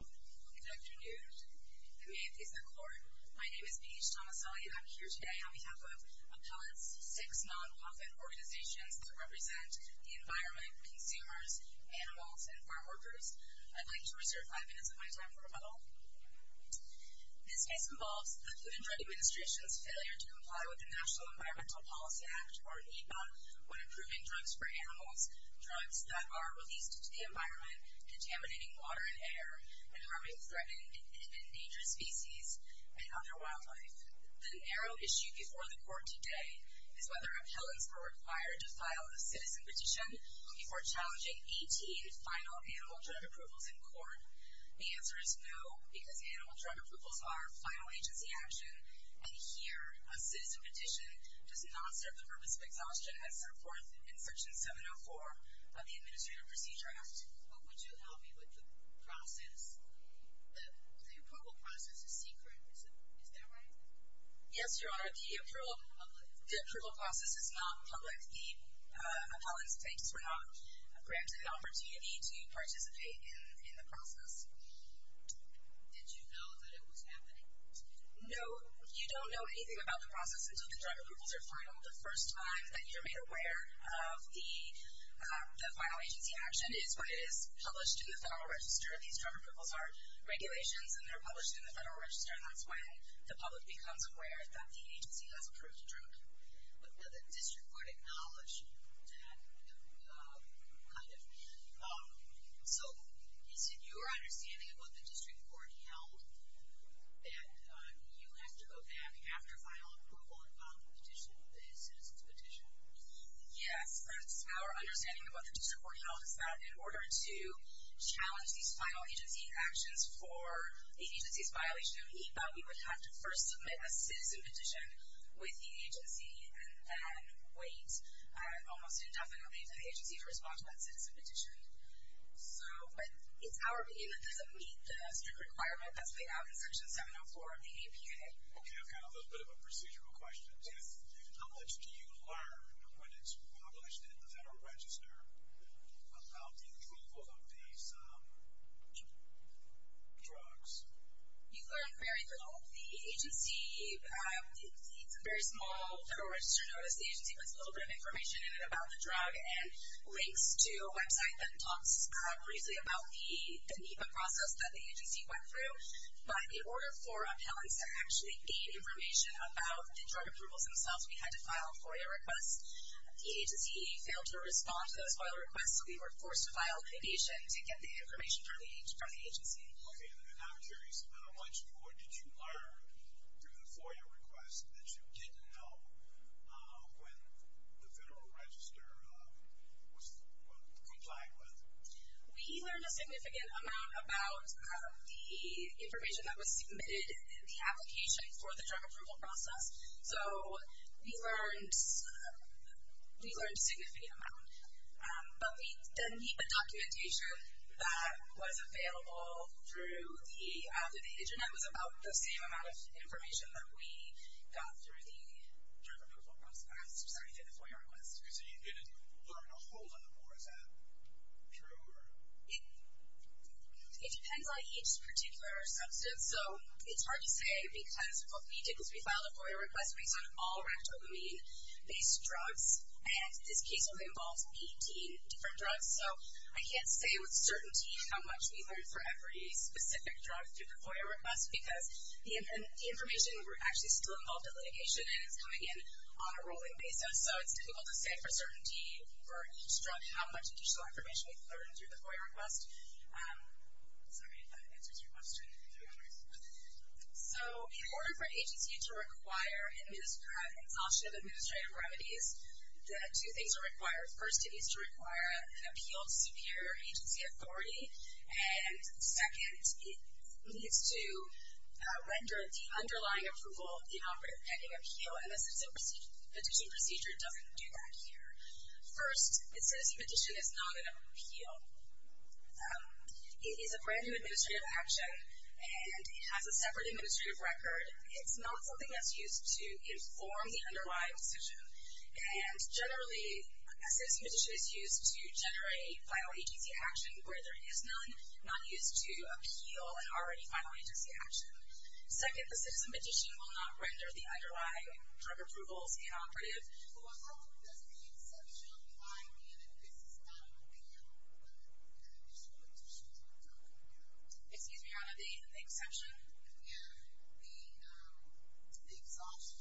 Good afternoon. My name is Paige Tomaselli and I'm here today on behalf of Appellate's six non-profit organizations that represent the environment, consumers, animals, and farm workers. I'd like to reserve five minutes of my time for rebuttal. This case involves the Food and Drug Administration's failure to comply with the National Environmental Policy Act, or NEPA, when approving drugs for animals, drugs that are released to the environment, contaminating water and air, and harming threatened and endangered species and other wildlife. The narrow issue before the court today is whether appellants are required to file a citizen petition before challenging 18 final animal drug approvals in court. The answer is no, because animal drug approvals are final agency action, and here a citizen petition does not serve the purpose of exhaustion as set forth in Section 704 of the Administrative Procedure Act. What would you help me with the process? The approval process is secret, is that right? Yes, Your Honor, the approval process is not public. The appellant's plaintiffs were not granted an opportunity to participate in the process. Did you know that it was happening? No, you don't know anything about the process until the drug approvals are final. The first time that you're made aware of the final agency action is when it is published in the Federal Register. These drug approvals are regulations and they're published in the Federal Register, and that's when the public becomes aware that the agency has approved a drug. But did the District Court acknowledge that? Kind of. So, is it your understanding of what the District Court held that you have to go back after final approval and file a petition, a District Court held that in order to challenge these final agency actions for the agency's violation of EAPA, we would have to first submit a citizen petition with the agency and then wait almost indefinitely for the agency to respond to that citizen petition. So, but it's our opinion that doesn't meet the strict requirement that's laid out in Section 704 of the APA. Okay, I've got a little bit of a procedural question. Yes. How much do you learn when it's published in the Federal Register about the approval of these drugs? You learn very little. The agency, it's a very small Federal Register notice. The agency puts a little bit of information in it about the drug and links to a website that talks briefly about the EAPA process that the agency went through, but in order for appellants to actually gain information about the drug approvals themselves, we failed to respond to those final requests, so we were forced to file a petition to get the information from the agency. Okay, and I'm curious, how much more did you learn through the FOIA request that you didn't know when the Federal Register was complying with? We learned a significant amount about the information that was submitted in the application for the drug approval process. So, we learned a significant amount, but the EAPA documentation that was available through the Internet was about the same amount of information that we got through the drug approval process, sorry, through the FOIA request. So you didn't learn a whole lot more, is that true? It depends on each particular substance, so it's hard to say, because what we did was we filed a FOIA request based on all Ractopamine-based drugs, and this case would involve 18 different drugs, so I can't say with certainty how much we learned for every specific drug through the FOIA request, because the information, we're actually still involved in litigation, and it's coming in on a rolling basis, so it's difficult to say for certainty for each drug how much additional information we've learned through the FOIA request. Sorry, if that answers your question. So, in order for an agency to require exhaustion of administrative remedies, two things are required. First, it needs to require an appeal to superior agency authority, and second, it needs to render the underlying approval of the operative pending appeal, and the citizen petition procedure doesn't do that here. First, a citizen petition is not an appeal. It is a brand new administrative action, and it has a separate administrative record. It's not something that's used to inform the underlying decision, and generally, a citizen petition is used to generate a final agency action where there is none, not used to appeal an already final agency action. Second, the citizen petition will not render the underlying drug approvals inoperative. Well, how does the exception apply here that this is not an appeal, but a citizen petition? Excuse me, Rana, the exception? Yeah, the exhaustion.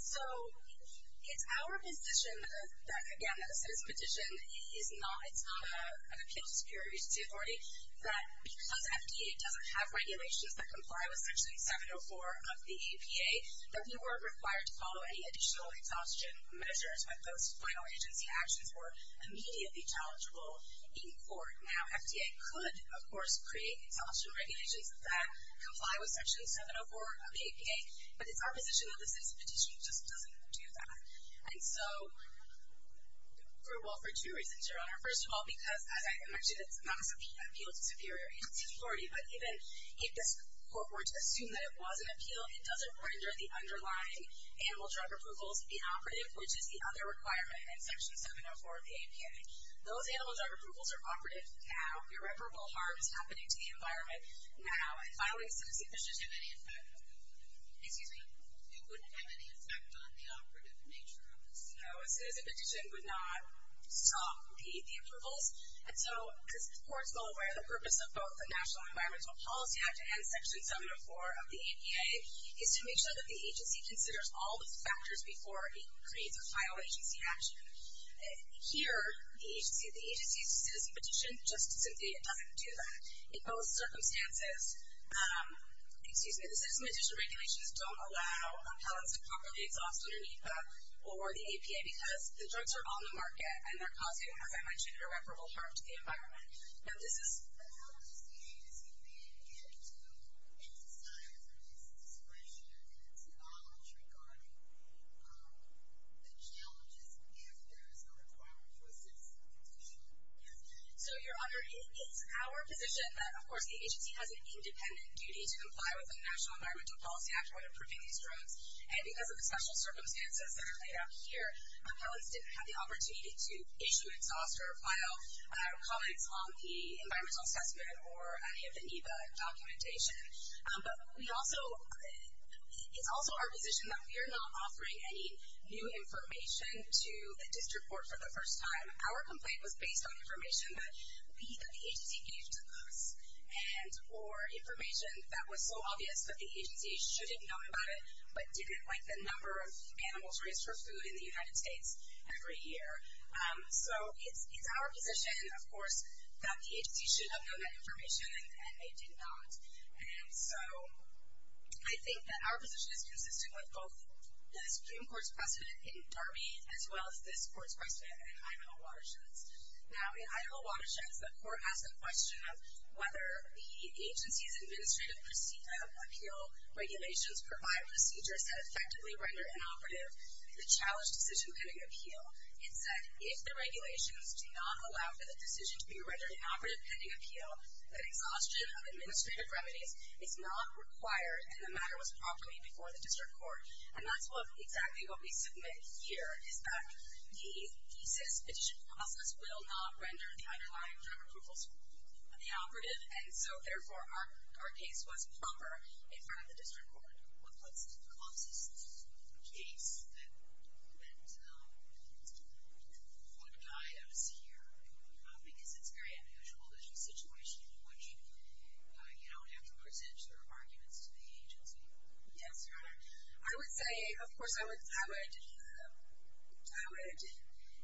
So, it's our position that, again, that a citizen petition is not, it's not an appeal to superior agency authority, that because FDA doesn't have regulations that comply with Section 704 of the APA, that we weren't required to follow any additional exhaustion measures when those final agency actions were immediately challengeable in court. Now, FDA could, of course, create exhaustion regulations that comply with Section 704 of the APA, but it's our position that the citizen petition just doesn't do that. And so, well, for two reasons, Your Honor. First of all, because, as I mentioned, it's not an appeal to superior agency authority, but even if this court were to assume that it was an appeal, it doesn't render the underlying animal drug approvals inoperative, which is the other requirement in Section 704 of the APA. Those animal drug approvals are operative now, irreparable harm is happening to the environment now, and filing a citizen petition wouldn't have any effect on the operative nature of this. No, a citizen petition would not stop the approvals. And so, because courts will aware the purpose of both the National Environmental Policy Act and Section 704 of the APA is to make sure that the agency considers all the factors before it creates a final agency action. Here, the agency's citizen petition just simply doesn't do that. In both circumstances, the citizen petition regulations don't allow pellets to properly exhaust underneath or the APA because the drugs are on the market and they're causing, as I mentioned, irreparable harm to the environment. But how does the agency then get to emphasize this discretion and knowledge regarding the challenges if there is a requirement for a citizen petition? So, Your Honor, it is our position that, of course, the agency has an independent duty to comply with the National Environmental Policy Act when approving these drugs. And because of the special circumstances that are laid out here, pellets didn't have the opportunity to issue, exhaust, or file comments on the environmental assessment or any of the NEPA documentation. But we also, it's also our position that we're not offering any new information to the district court for the first time. Our complaint was based on information that the agency gave to us and or information that was so obvious that the agency should have known about it but didn't like the number of animals raised for food in the United States every year. So, it's our position, of course, that the agency should have known that information and they did not. And so, I think that our position is consistent with both this Supreme Court's precedent in Darby as well as this court's precedent in Idaho watersheds. Now, in Idaho watersheds, the court asked the question of whether the agency's administrative appeal regulations provide procedures that effectively render inoperative the challenge decision pending appeal. It said, if the regulations do not allow for the decision to be rendered inoperative pending appeal, that exhaustion of administrative remedies is not required and the matter was properly before the district court. And that's exactly what we submit here is that the thesis petition process will not render the underlying drug approvals inoperative. And so, therefore, our case was proper in front of the district court. What's the closest case that would guide us here? Because it's very unusual, there's a situation in which you don't have to present your arguments to the agency. Yes, Your Honor. I would say, of course, I would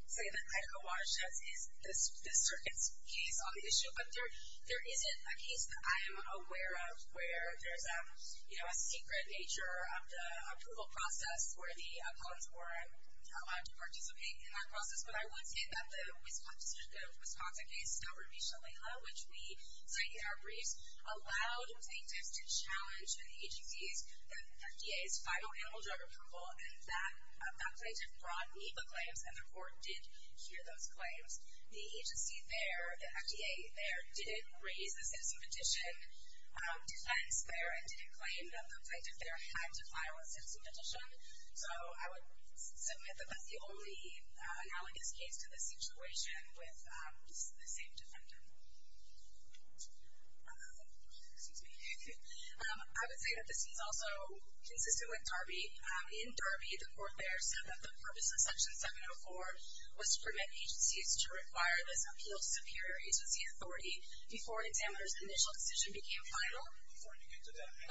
say that Idaho watersheds is the circuit's case on the issue. But there isn't a case that I am aware of where there's a secret nature of the approval process where the appellants were allowed to participate in that process. But I would say that the Wisconsin case, which we cited in our briefs, allowed plaintiffs to challenge the agency's, the FDA's final animal drug approval and that plaintiff brought me the claims and the court did hear those claims. The agency there, the FDA there, didn't raise the citizen petition defense there and didn't claim that the plaintiff there had to file a citizen petition. So I would submit that that's the only analogous case to the situation with the same defendant. Excuse me. I would say that this is also consistent with Darby. In Darby, the court there said that the purpose of section 704 was to permit agencies to require this appeal to superior agency authority before an examiner's initial decision became final. Before you get to that, I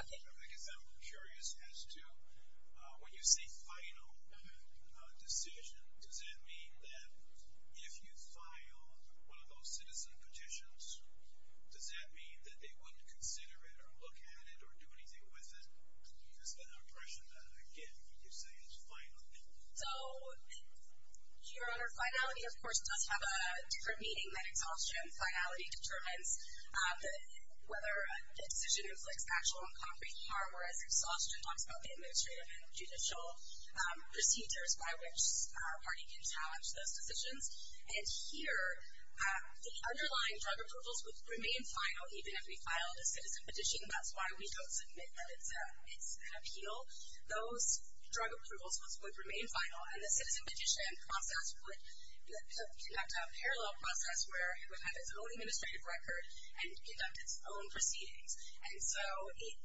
guess I'm curious as to when you say final decision, does that mean that if you file one of those citizen petitions, does that mean that they wouldn't consider it or look at it or do anything with it? Because then I would question that again when you say it's final. So, Your Honor, finality of course does have a different meaning than exhaustion. Finality determines whether a decision inflicts actual and concrete harm, whereas exhaustion talks about the administrative and judicial procedures by which a party can challenge those decisions. And here, the underlying drug approvals would remain final even if we filed a citizen petition. That's why we don't submit that it's an appeal. Those drug approvals would remain final, and the citizen petition process would conduct a parallel process where it would have its own administrative record and conduct its own proceedings. And so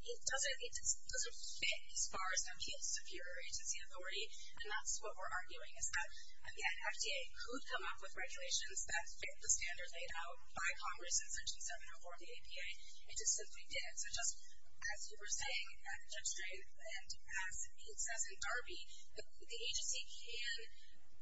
it doesn't fit as far as appeal to superior agency authority. And that's what we're arguing is that, again, FDA could come up with regulations that fit the standard laid out by Congress in Section 704 of the APA. It just simply didn't. So just as you were saying, Judge Drake, and as Pete says in Darby, the agency can create provisions so that that initial decision becomes unfiled depending on the exhaustion process, but that's just not what we have here. So I would also say that I would point the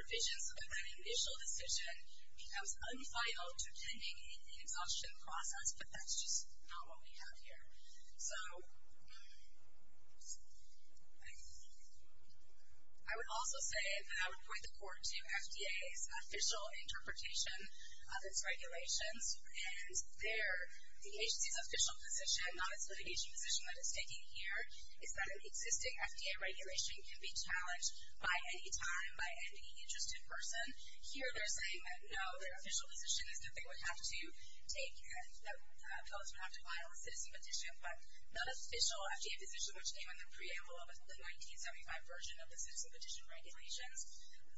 court to FDA's official interpretation of its regulations, and the agency's official position, not its litigation position that it's taking here, is that an existing FDA regulation can be challenged by any time, by any interested person. Here they're saying that no, their official position is that they would have to take, that fellows would have to file a citizen petition. But the official FDA position, which came in the preamble of the 1975 version of the citizen petition regulations,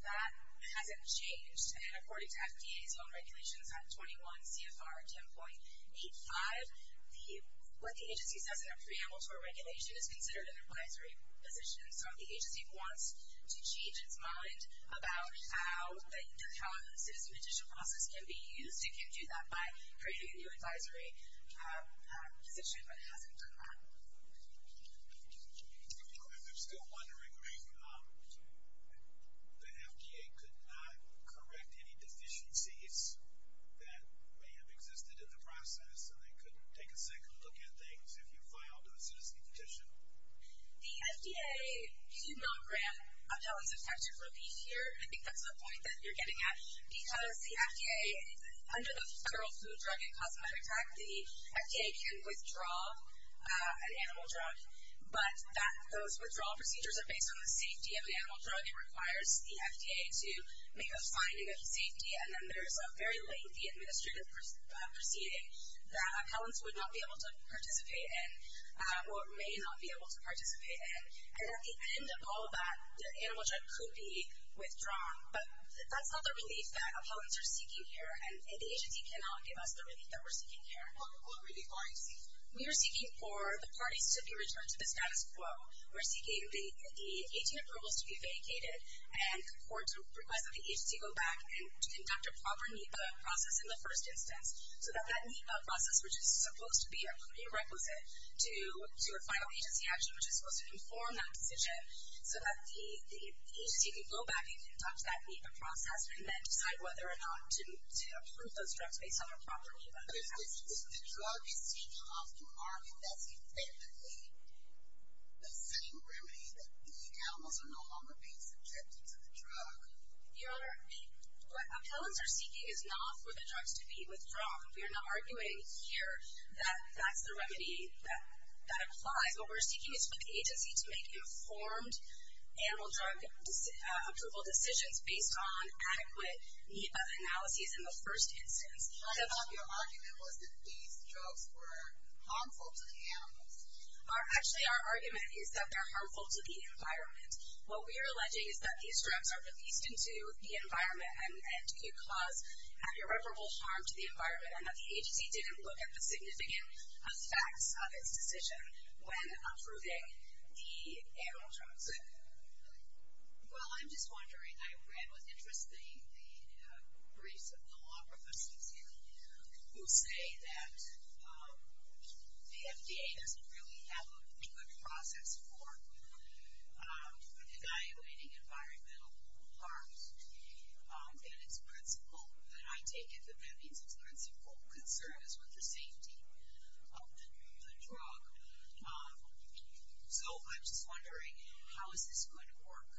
that hasn't changed. And according to FDA's own regulations at 21 CFR 10.85, what the agency says in the preamble to a regulation is considered an advisory position. So if the agency wants to change its mind about how the citizen petition process can be used, it can do that by creating a new advisory position, but it hasn't done that. I'm still wondering, the FDA could not correct any deficiencies that may have existed in the process, and they couldn't take a second to look at things if you filed a citizen petition? The FDA could not grant appellants effective relief here. I think that's the point that you're getting at. Because the FDA, under the Federal Food Drug and Cosmetic Act, the FDA can withdraw an animal drug, but those withdrawal procedures are based on the safety of an animal drug. It requires the FDA to make a finding of safety, and then there's a very lengthy administrative proceeding that appellants would not be able to participate in, or may not be able to participate in. And at the end of all of that, the animal drug could be withdrawn. But that's not the relief that appellants are seeking here, and the agency cannot give us the relief that we're seeking here. What relief are you seeking? We are seeking for the parties to be returned to the status quo. We're seeking the 18 approvals to be vacated, and the court's request that the agency go back and conduct a proper NEPA process in the first instance, so that that NEPA process, which is supposed to be a prerequisite to a final agency action, which is supposed to inform that decision, so that the agency can go back and conduct that NEPA process, and then decide whether or not to approve those drugs based on a proper NEPA process. If the drug is taken off the market, that's effectively the same remedy that the animals are no longer being subjected to the drug. Your Honor, what appellants are seeking is not for the drugs to be withdrawn. We are not arguing here that that's the remedy that applies. What we're seeking is for the agency to make informed animal drug approval decisions based on adequate NEPA analyses in the first instance. I thought your argument was that these drugs were harmful to the animals. Actually, our argument is that they're harmful to the environment. What we're alleging is that these drugs are released into the environment and could cause irreparable harm to the environment, and that the agency didn't look at the significant effects of its decision when approving the animal drugs. Well, I'm just wondering. I read with interest the briefs of the law professors here who say that the FDA doesn't really have a good process for evaluating environmental harms. And it's principled, and I take it that that means it's principled concern is with the safety of the drug. So I'm just wondering, how is this going to work?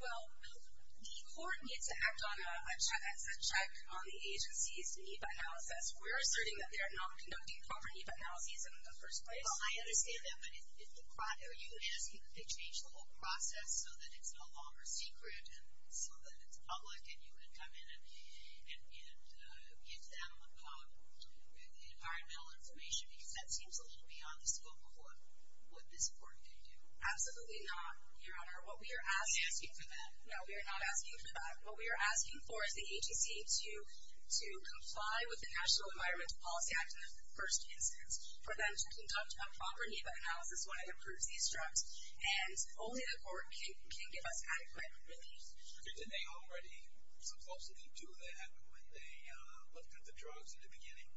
Well, the court needs to act as a check on the agency's NEPA analysis. We're asserting that they're not conducting proper NEPA analyses in the first place. Well, I understand that, but are you asking that they change the whole process so that it's no longer secret and so that it's public and you can come in and give them environmental information? Because that seems a little beyond the scope of what this court could do. Absolutely not, Your Honor. Are you asking for that? No, we are not asking for that. What we are asking for is the agency to comply with the National Environmental Policy Act in the first instance, for them to conduct a proper NEPA analysis when it approves these drugs, and only the court can give us adequate relief. Did they already supposedly do that when they looked at the drugs in the beginning?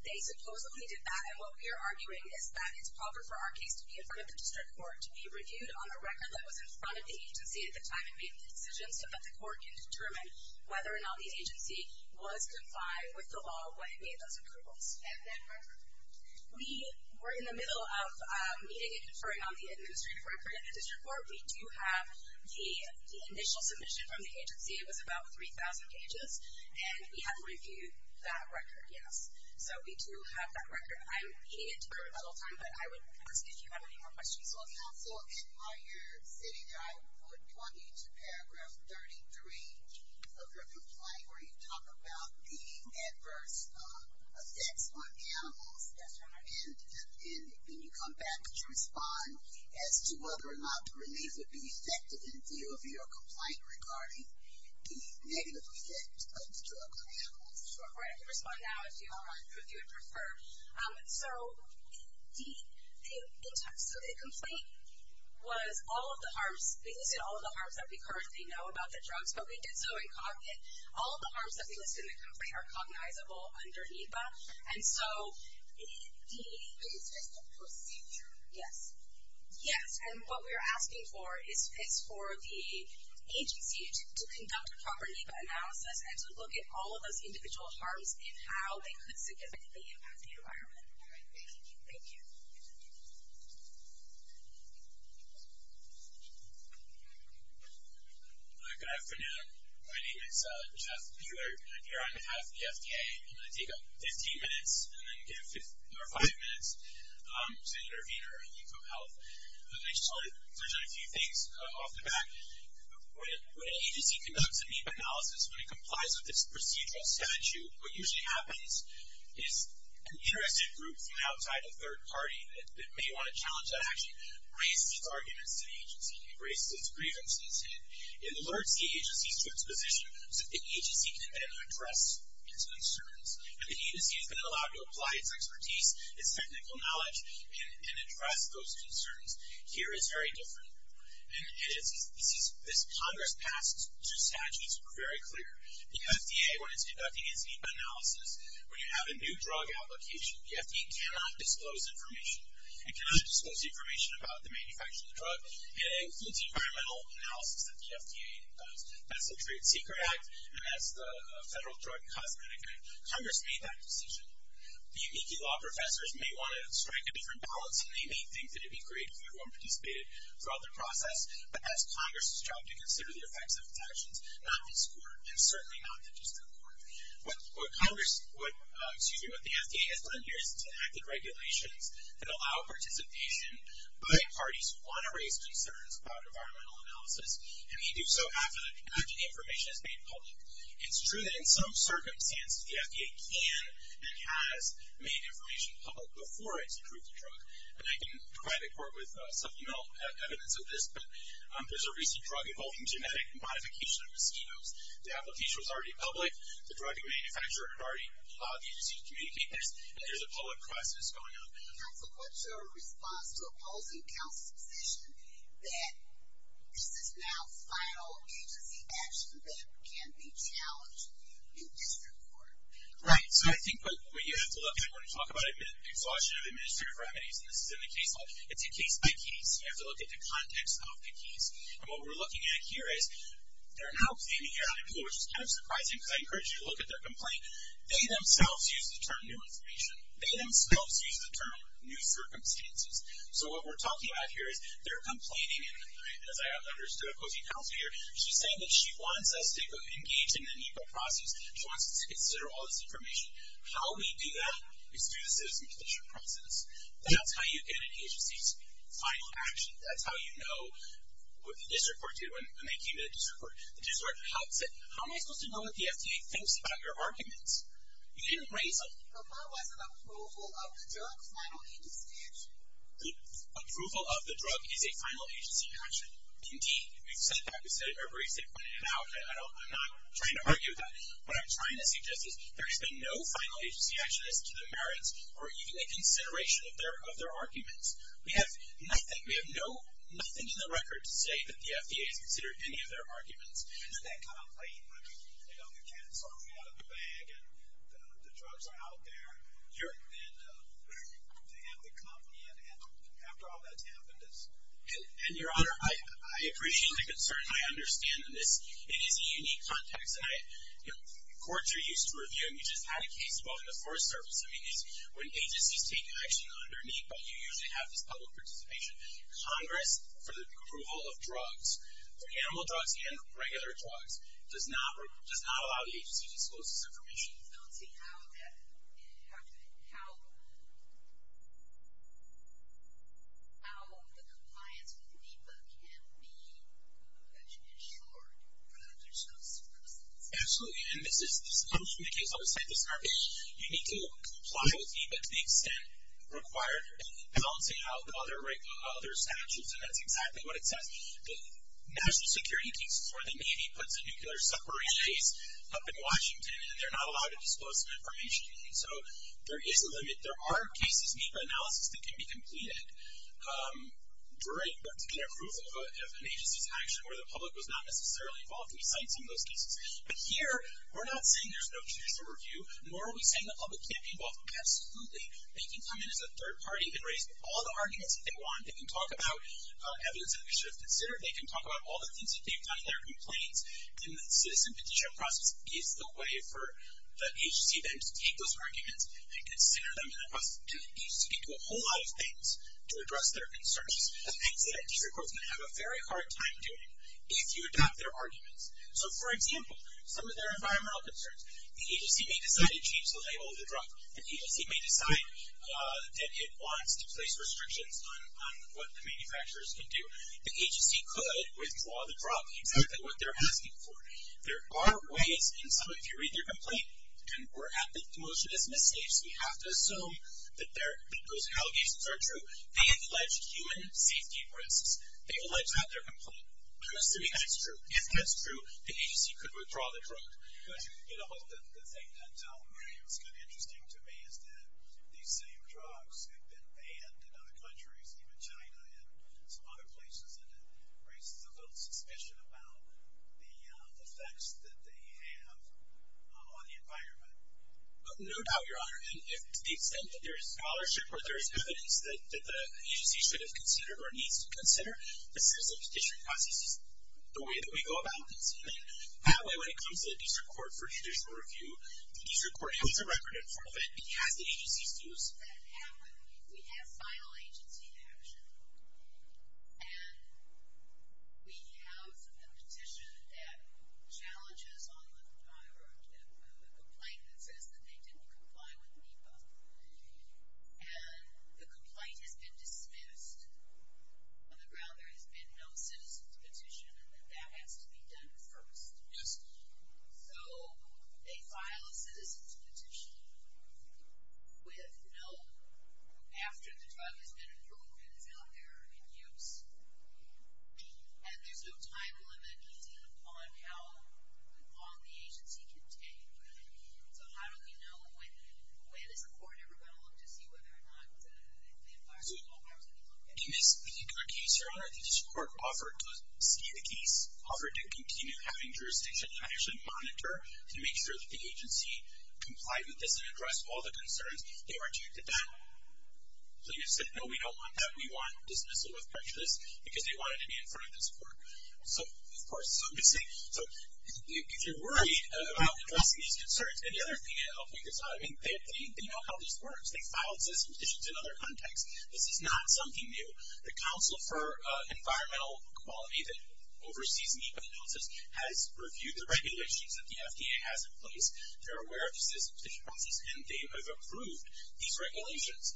They supposedly did that, and what we are arguing is that it's proper for our case to be in front of the district court to be reviewed on the record that was in front of the agency at the time it made the decision so that the court can determine whether or not the agency was confined with the law when it made those approvals. And that record? We were in the middle of meeting and conferring on the administrative record at the district court. We do have the initial submission from the agency. It was about 3,000 pages, and we have reviewed that record, yes. So we do have that record. I'm heeding it to court all the time, but I would ask if you have any more questions. Counsel, while you're sitting there, I would want you to Paragraph 33 of your complaint where you talk about the adverse effects on animals, and then you come back to respond as to whether or not the relief would be effective in view of your complaint regarding the negative effects of the drug on animals. I can respond now if you would prefer. So the complaint was all of the harms. We listed all of the harms that we currently know about the drugs, but we did so incognito. All of the harms that we listed in the complaint are cognizable under NEPA, and so the... It's just a procedure. Yes. Yes, and what we're asking for is for the agency to conduct a proper NEPA analysis and to look at all of those individual harms and how they could significantly impact the environment. All right. Thank you. Thank you. Good afternoon. My name is Jeff Buehler, and I'm here on behalf of the FDA. I'm going to take 15 minutes and then give five minutes to the intervener at LeucoHealth. I just want to touch on a few things off the bat. When an agency conducts a NEPA analysis, when it complies with its procedural statute, what usually happens is an interested group from outside a third party that may want to challenge that action raises its arguments to the agency. It raises its grievances. It alerts the agency to its position so that the agency can then address its concerns. And the agency is going to allow you to apply its expertise, its technical knowledge, and address those concerns. Here it's very different. This Congress passed two statutes that were very clear. The FDA, when it's conducting its NEPA analysis, when you have a new drug application, the FDA cannot disclose information. It cannot disclose information about the manufacture of the drug, and it includes environmental analysis that the FDA does. That's the Trade and Secret Act, and that's the Federal Drug and Cosmetic Act. Congress made that decision. The unique law professors may want to strike a different balance, and they may think that it'd be great if everyone participated throughout the process, but as Congress has tried to consider the effects of its actions, not this quarter, and certainly not the distant quarter. What Congress would do, excuse me, what the FDA has done here is enacted regulations that allow participation by parties who want to raise concerns about environmental analysis, and they do so after the information is made public. It's true that in some circumstances, the FDA can and has made information public before it's approved the drug, and I can provide the court with supplemental evidence of this, but there's a recent drug involving genetic modification of mosquitoes. The application was already public. The drug manufacturer had already allowed the agency to communicate this, and there's a public process going on. Counsel, what's your response to opposing counsel's decision that this is now final agency action that can be challenged in district court? Right. So I think what you have to look at when you talk about exhaustion of administrative remedies, and this is in the case law, it's a case by case. You have to look at the context of the case, and what we're looking at here is they're now claiming, which is kind of surprising because I encourage you to look at their complaint. They themselves use the term new information. They themselves use the term new circumstances. So what we're talking about here is they're complaining, and as I understood opposing counsel here, she's saying that she wants us to engage in a new process. She wants us to consider all this information. How we do that is through the citizenship process. That's how you get an agency's final action. That's how you know what the district court did when they came to the district court. The district court said, how am I supposed to know what the FDA thinks about your arguments? You didn't raise them. But that was an approval of the drug's final agency action. Approval of the drug is a final agency action. Indeed, we've said that. We've said it every single day now. I'm not trying to argue with that. What I'm trying to suggest is there has been no final agency action as to the merits or even a consideration of their arguments. We have nothing. We have nothing in the record to say that the FDA has considered any of their arguments. Is that kind of blatant? I mean, you know, you can't just throw me out of the bag and the drugs are out there. And they have to come in, and after all that's happened, it's... And, Your Honor, I appreciate the concern, and I understand. It is a unique context, and courts are used to reviewing. You just had a case involving the Forest Service. I mean, when agencies take action underneath, but you usually have this public participation. Congress, for the approval of drugs, for animal drugs and regular drugs, does not allow the agency to disclose this information. Balancing out that, how the compliance with the DEPA can be ensured for that there's no circumstances. Absolutely. And this comes from the case I was saying. You need to comply with DEPA to the extent required. Balancing out other statutes, and that's exactly what it says. National security cases, where the Navy puts a nuclear submarine chase up in Washington, and they're not allowed to disclose some information. And so, there is a limit. There are cases in DEPA analysis that can be completed during particular approval of an agency's action where the public was not necessarily involved. And we cite some of those cases. But here, we're not saying there's no judicial review, nor are we saying the public can't be involved. Absolutely. They can come in as a third party and raise all the arguments that they want. They can talk about evidence that they should have considered. They can talk about all the things that they've done in their complaints. And the citizen petition process is the way for the agency then to take those arguments and consider them in a process. And the agency can do a whole lot of things to address their concerns. The things that a district court's going to have a very hard time doing if you adopt their arguments. So, for example, some of their environmental concerns. The agency may decide to change the label of the drug. The agency may decide that it wants to place restrictions on what the manufacturers can do. The agency could withdraw the drug, exactly what they're asking for. There are ways, and some of you read their complaint, and we're at the motion as misstates. We have to assume that those allegations are true. They've alleged human safety risks. They've alleged that in their complaint. I'm assuming that's true. If that's true, the agency could withdraw the drug. The thing that's kind of interesting to me is that these same drugs have been banned in other countries, even China and some other places, and it raises a little suspicion about the effects that they have on the environment. No doubt, Your Honor. To the extent that there is scholarship or there is evidence that the agency should have considered or needs to consider, the citizen petition process is the way that we go about this. That way, when it comes to the district court for judicial review, the district court puts a record in front of it. It has the agency's views. We have final agency action, and we have the petition that challenges on the complaint that says that they didn't comply with NEPA, and the complaint has been dismissed on the ground there has been no citizen's petition and that that has to be done first. Yes. So they file a citizen's petition with no, after the drug has been approved and is out there in use, and there's no time limit on how long the agency can take. So how do we know when is the court ever going to look to see whether or not the environment In this particular case, Your Honor, the district court offered to see the case, offered to continue having jurisdiction and actually monitor to make sure that the agency complied with this and addressed all the concerns that were due to that. So you said, no, we don't want that. We want dismissal with prejudice because they wanted to be in front of this court. So, of course, so if you're worried about addressing these concerns, the other thing that helped me is that they know how this works. They filed citizen's petitions in other contexts. This is not something new. The Council for Environmental Quality that oversees me has reviewed the regulations that the FDA has in place. They're aware of the citizen's petitions, and they have approved these regulations.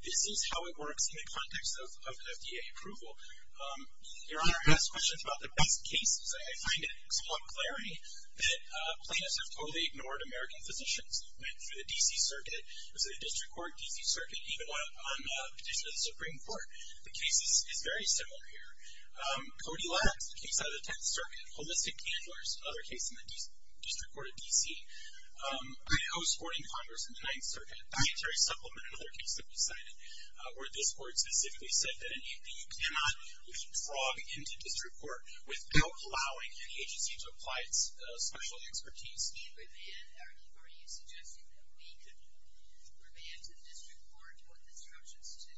This is how it works in the context of FDA approval. Your Honor, I asked questions about the best cases, and I find it somewhat glaring that plaintiffs have totally ignored American physicians. I went through the D.C. Circuit. It was a district court, D.C. Circuit, even on a petition to the Supreme Court. The case is very similar here. Cody Labs, a case out of the Tenth Circuit. Holistic Candlers, another case in the District Court of D.C. I.O.'s Court in Congress in the Ninth Circuit. Dietary Supplement, another case that we cited, where this court specifically said that an APU cannot withdraw into district court without allowing any agency to apply its special expertise. Are you suggesting that we could remand the district court with instructions to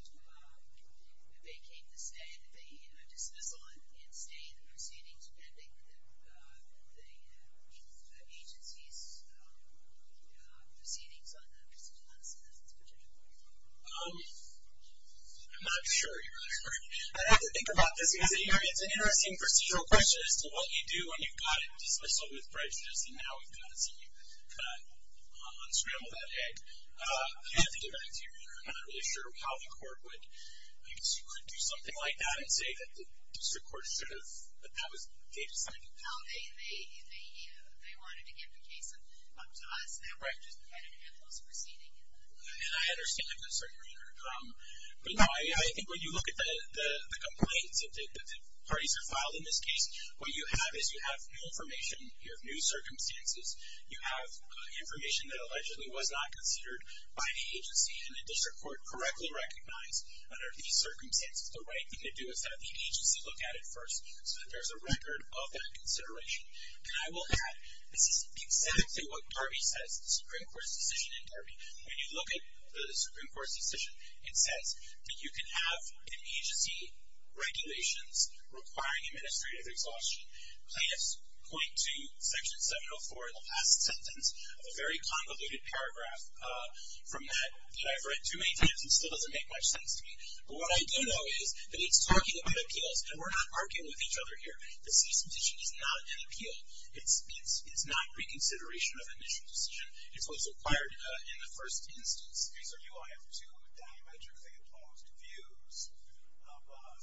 vacate the stay, dismissal and stay in the proceedings, pending the agency's proceedings on the citizen's petition? I'm not sure, Your Honor. I'd have to think about this, because it's an interesting procedural question as to what you do when you've got it dismissaled with prejudice and now we've got to see you kind of unscramble that egg. I'd have to give that to you, Your Honor. I'm not really sure how the court would do something like that and say that the district court should have, that that was data cited. No, they wanted to give the case up to us, and we're just getting ahead of those proceedings. And I understand that concern, Your Honor. But no, I think when you look at the complaints that the parties have filed in this case, what you have is you have new information. You have new circumstances. You have information that allegedly was not considered by the agency and the district court correctly recognized under these circumstances. The right thing to do is have the agency look at it first so that there's a record of that consideration. And I will add, this is exactly what Darby says, the Supreme Court's decision in Darby. When you look at the Supreme Court's decision, it says that you can have an agency regulations requiring administrative exhaustion, plaintiffs point to Section 704 in the last sentence, a very convoluted paragraph from that that I've read too many times and still doesn't make much sense to me. But what I do know is that it's talking about appeals, and we're not arguing with each other here. The cease and desist is not an appeal. It's not reconsideration of initial decision. It's what's required in the first instance. These are UIF 2 diametrically imposed views of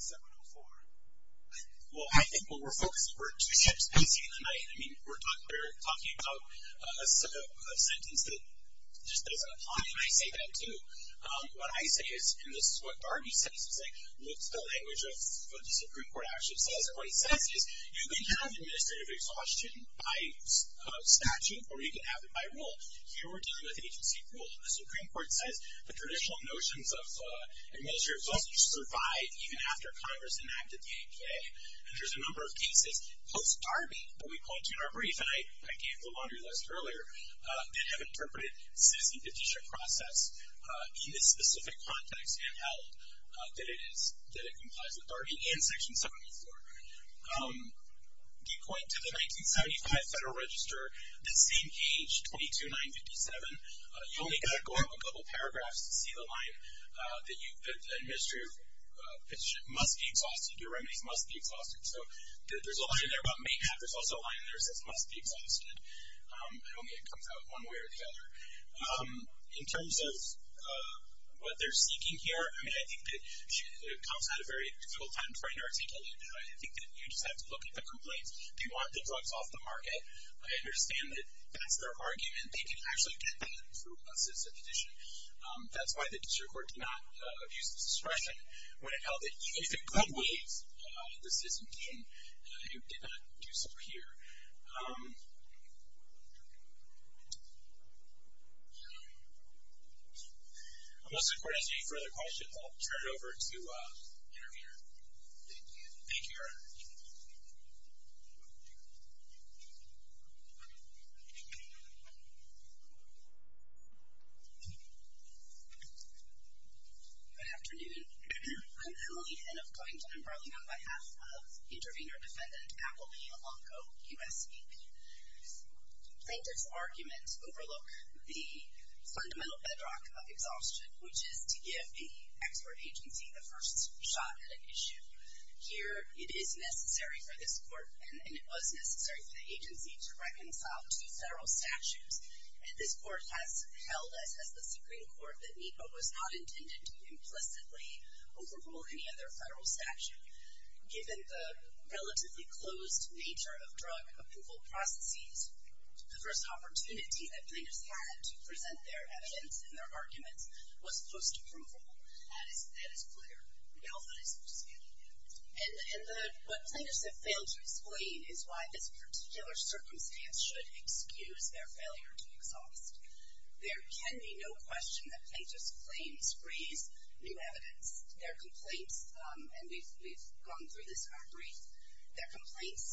704. Well, I think what we're focusing on are two ships facing the night. I mean, we're talking about a sentence that just doesn't apply, and I say that too. What I say is, and this is what Darby says, it's like what the language of what the Supreme Court actually says. And what he says is you can have administrative exhaustion by statute or you can have it by rule. Here we're dealing with agency rule. The Supreme Court says the traditional notions of administrative exhaustion survive even after Congress enacted the APA. And there's a number of cases post-Darby that we point to in our brief, and I gave the laundry list earlier, that have interpreted citizen petition process in this specific context and held that it complies with Darby and Section 704. You point to the 1975 Federal Register, the same page, 22957. Administrative petition must be exhausted. Your remedies must be exhausted. So there's a line in there about mayhap. There's also a line in there that says must be exhausted. I don't think it comes out one way or the other. In terms of what they're seeking here, I mean, I think it comes out of very full-time frame articulate. I think that you just have to look at the complaints. They want the drugs off the market. I understand that that's their argument. They can actually get that through a citizen petition. That's why the district court did not abuse this expression when it held that it could be a citizen petition. It did not do so here. Unless the court has any further questions, I'll turn it over to the interviewer. Thank you. Thank you, Your Honor. Good afternoon. I'm Emily Henn of Coington and Burling on behalf of Intervenor Defendant Appleby Alonco, USAP. I think this argument overlooks the fundamental bedrock of exhaustion, which is to give the expert agency the first shot at an issue. Here, it is necessary for this court, and it was necessary for the agency, to reconcile two federal statutes. And this court has held, as has the Supreme Court, that NEPA was not intended to implicitly overrule any other federal statute. Given the relatively closed nature of drug approval processes, the first opportunity that plaintiffs had to present their evidence and their arguments was post-approval. That is clear now that I speak to you. And what plaintiffs have failed to explain is why this particular circumstance should excuse their failure to exhaust. There can be no question that plaintiffs' claims raise new evidence. Their complaints, and we've gone through this in our brief, their complaints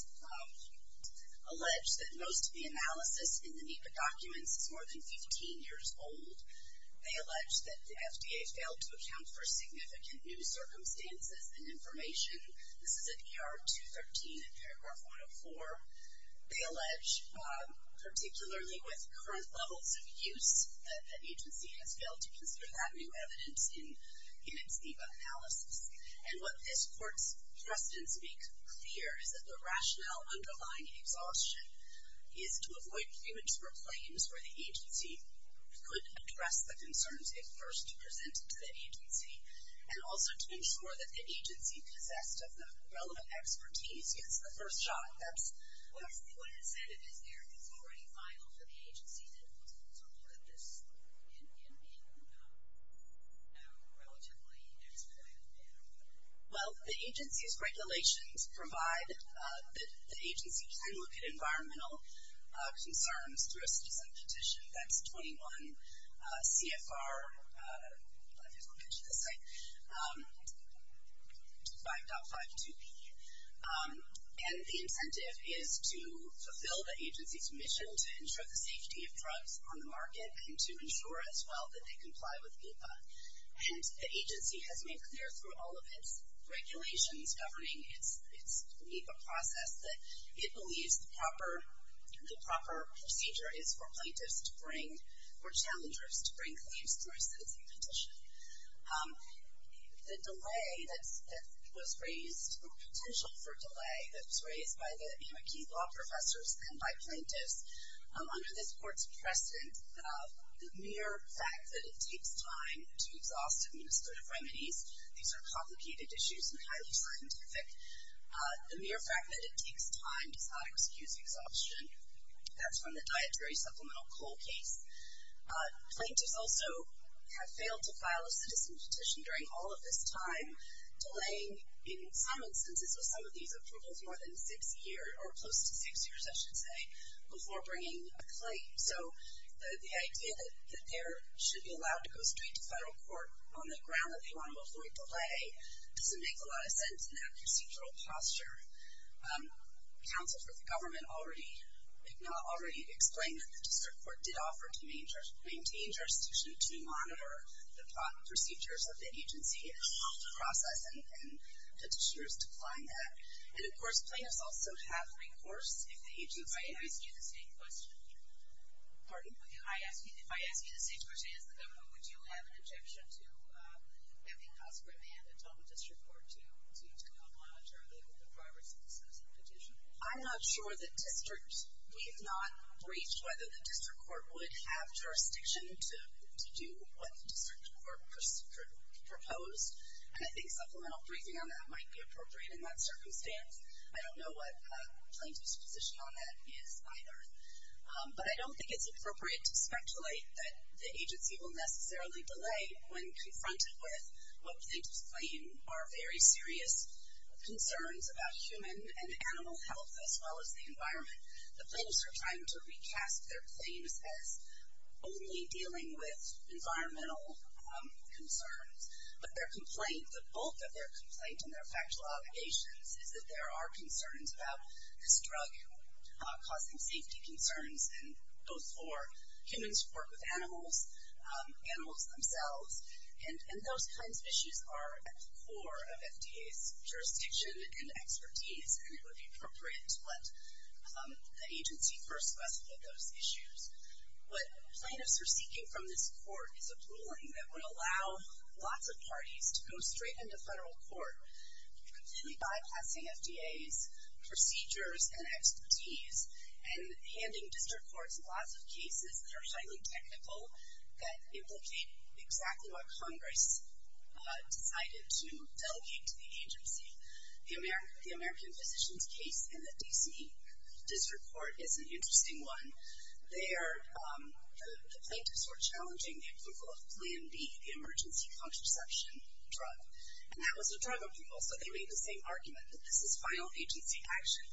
allege that most of the analysis in the NEPA documents is more than 15 years old. They allege that the FDA failed to account for significant new circumstances and information. This is at ER 213 in paragraph 104. They allege, particularly with current levels of use, that the agency has failed to consider that new evidence in its NEPA analysis. And what this court's precedents make clear is that the rationale underlying exhaustion is to avoid premature claims where the agency could address the concerns it first presented to the agency, and also to ensure that the agency possessed of the relevant expertise gets the first shot. What incentive is there, if it's already final, for the agency to look at this in a relatively expedited manner? Well, the agency's regulations provide that the agency can look at environmental concerns through a citizen petition. That's 21 CFR. I don't know if I mentioned the site. 5.52B. And the incentive is to fulfill the agency's mission to ensure the safety of drugs on the market and to ensure as well that they comply with NEPA. And the agency has made clear through all of its regulations governing its NEPA process that it believes the proper procedure is for plaintiffs to bring, or challengers to bring, claims through a citizen petition. The delay that was raised, or potential for delay that was raised by the Amaki law professors and by plaintiffs, under this court's precedent, the mere fact that it takes time to exhaust administrative remedies, these are complicated issues and highly scientific, the mere fact that it takes time to try to excuse exhaustion, that's from the dietary supplemental coal case. Plaintiffs also have failed to file a citizen petition during all of this time, delaying in some instances with some of these approvals more than six years, or close to six years, I should say, before bringing a claim. So the idea that they should be allowed to go straight to federal court on the ground that they want to avoid delay doesn't make a lot of sense in that procedural posture. Counsel for the government already, if not already, explained that the district court did offer to maintain jurisdiction to monitor the procedures of the agency and the process, and petitioners declined that. And, of course, plaintiffs also have recourse if the agency- If I ask you the same question- Pardon? If I ask you the same question as the government, would you have an objection to having conscript men tell the district court to not monitor the progress of the citizen petition? I'm not sure that district- We've not briefed whether the district court would have jurisdiction to do what the district court proposed, and I think supplemental briefing on that might be appropriate in that circumstance. I don't know what plaintiff's position on that is either. But I don't think it's appropriate to speculate that the agency will necessarily delay when confronted with what plaintiffs claim are very serious concerns about human and animal health, as well as the environment. The plaintiffs are trying to recast their claims as only dealing with environmental concerns, but their complaint, the bulk of their complaint and their factual obligations, is that there are concerns about this drug causing safety concerns, both for humans who work with animals, animals themselves. And those kinds of issues are at the core of FDA's jurisdiction and expertise, and it would be appropriate to let the agency first specify those issues. What plaintiffs are seeking from this court is a ruling that would allow lots of parties to go straight into federal court, completely bypassing FDA's procedures and expertise, and handing district courts lots of cases that are highly technical, that implicate exactly what Congress decided to delegate to the agency. The American Physicians case in the D.C. District Court is an interesting one. There, the plaintiffs were challenging the approval of Plan B, the emergency contraception drug, and that was a drug approval, so they made the same argument that this is final agency action,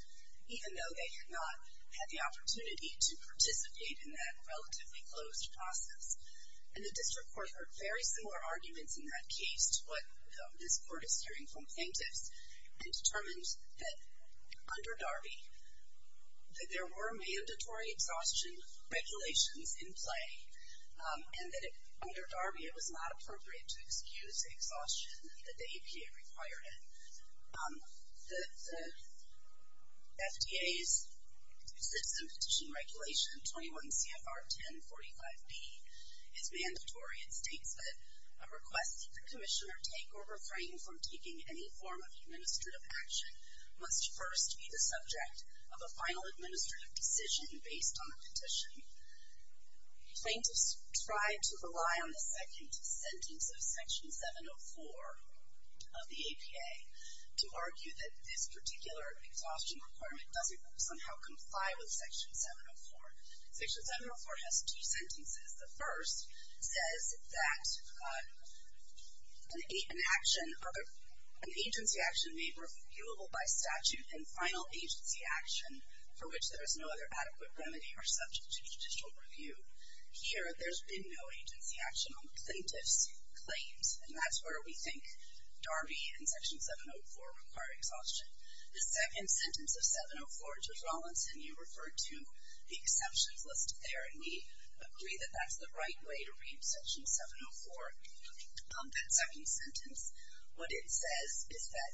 even though they had not had the opportunity to participate in that relatively closed process. And the district court heard very similar arguments in that case to what this court is hearing from plaintiffs, and determined that under Darby, that there were mandatory exhaustion regulations in play, and that under Darby it was not appropriate to excuse the exhaustion that the APA required it. The FDA's Citizen Petition Regulation, 21 CFR 1045B, is mandatory. It states that a request that the commissioner take or refrain from taking any form of administrative action must first be the subject of a final administrative decision based on the petition. Plaintiffs tried to rely on the second sentence of Section 704 of the APA to argue that this particular exhaustion requirement doesn't somehow comply with Section 704. Section 704 has two sentences. The first says that an agency action may be refutable by statute, and final agency action for which there is no other adequate remedy or subject to judicial review. Here, there's been no agency action on the plaintiff's claims, and that's where we think Darby and Section 704 require exhaustion. The second sentence of 704, Judge Rawlinson, you referred to the exceptions list there, and we agree that that's the right way to read Section 704, that second sentence. What it says is that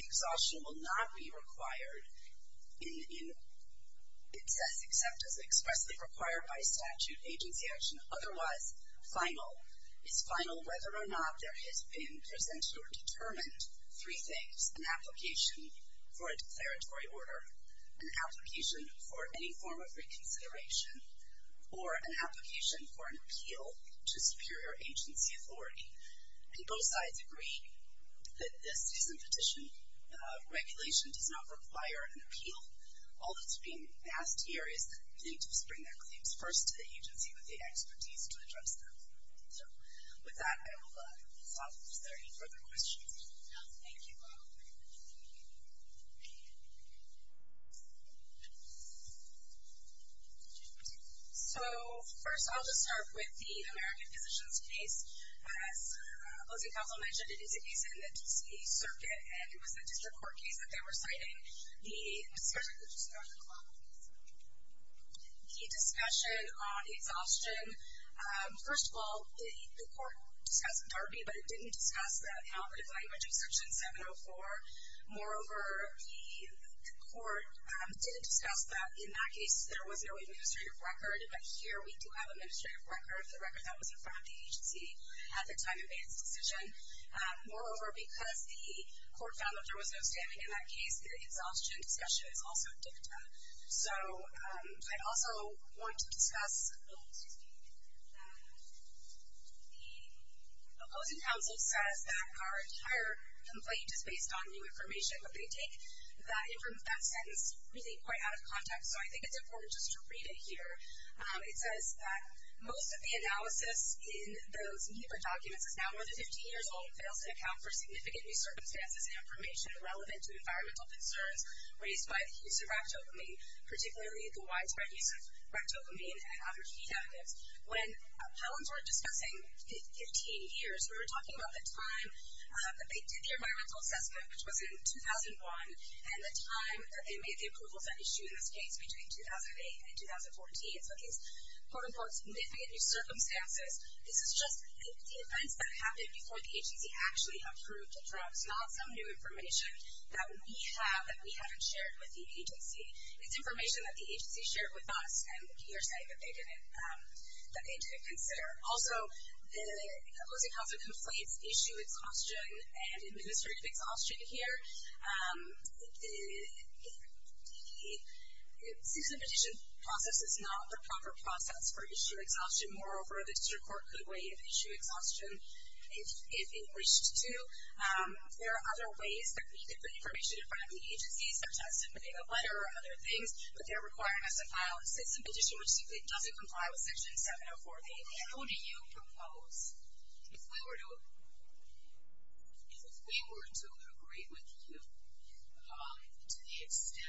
exhaustion will not be required in, it says, except as expressly required by statute, agency action. Otherwise, final. It's final whether or not there has been presented or determined three things, an application for a declaratory order, an application for any form of reconsideration, or an application for an appeal to superior agency authority. And both sides agree that this is a petition. Regulation does not require an appeal. All that's being asked here is that plaintiffs bring their claims first to the agency with the expertise to address them. So with that, I will stop. Is there any further questions? No. Thank you all. Thank you. So first I'll just start with the American Physicians case. As opposing counsel mentioned, it is a case in the D.C. Circuit, and it was the district court case that they were citing. The discussion on exhaustion, first of all, the court discussed Darby, but it didn't discuss the operative language of Section 704. Moreover, the court didn't discuss that in that case there was no administrative record. But here we do have administrative record, the record that was in front of the agency at the time it made its decision. Moreover, because the court found that there was no standing in that case, the exhaustion discussion is also dicta. So I also want to discuss the opposing counsel says that our entire complaint is based on new information, but they take that sentence really quite out of context. So I think it's important just to read it here. It says that most of the analysis in those NEPA documents is now more than 15 years old and fails to account for significant new circumstances and information irrelevant to environmental concerns raised by the agency, particularly the widespread use of ectopamine and other feed additives. When Pelham's were discussing 15 years, we were talking about the time that they did the environmental assessment, which was in 2001, and the time that they made the approvals that issued in this case between 2008 and 2014. So these quote unquote significant new circumstances, this is just the events that happened before the agency actually approved the drugs, not some new information that we have, that we haven't shared with the agency. It's information that the agency shared with us, and we are saying that they didn't consider. Also, the opposing counsel conflates issue exhaustion and administrative exhaustion here. The cease and petition process is not the proper process for issue exhaustion. Moreover, the district court could waive issue exhaustion if it wished to. There are other ways that we could put information in front of the agency, such as submitting a letter or other things, but they're requiring us to file a cease and petition, which simply doesn't comply with Section 704B. How do you propose, if we were to agree with you to the extent that you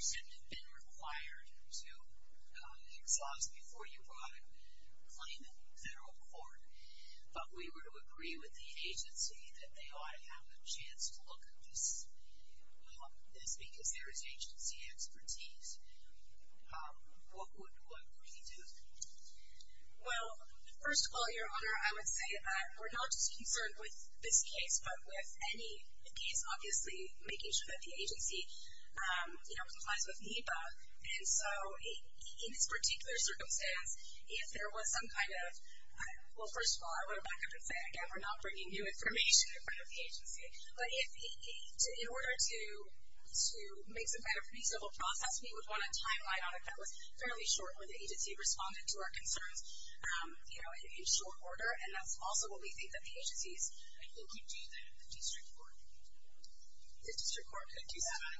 should have been required to exhaust before you brought a claim in federal court, but we were to agree with the agency that they ought to have a chance to look at this because there is agency expertise, what would we do? Well, first of all, Your Honor, I would say that we're not just concerned with this case, but with any case, obviously, making sure that the agency complies with NEPA. And so, in this particular circumstance, if there was some kind of, well, first of all, I would back up and say, again, we're not bringing new information in front of the agency. But in order to make some kind of reasonable process, we would want to timeline on it that was fairly short, where the agency responded to our concerns in short order, and that's also what we think that the agency is. And who could do that? The district court? The district court could do that.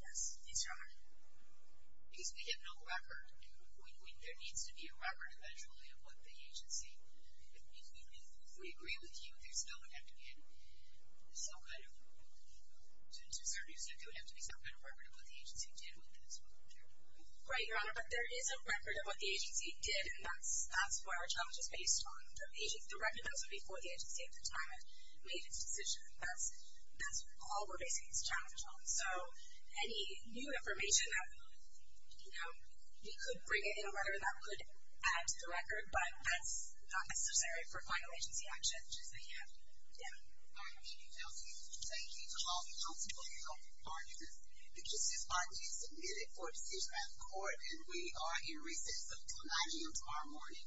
Yes. Yes, Your Honor. Because we have no record. There needs to be a record, eventually, of what the agency. If we agree with you, there's going to have to be some kind of record of what the agency did with this. Right, Your Honor, but there is a record of what the agency did, and that's where our challenge is based on. The records are before the agency at the time it made its decision. That's all we're basing this challenge on. So, any new information that, you know, we could bring in a letter that could add to the record, but that's not necessary for final agency action, which is the NEPA. Yeah. All right. Thank you, Kelsey. Thank you to all the constables and all the partners. Because this bond is submitted for decision at the court, and we are in recess until 9 a.m. tomorrow morning.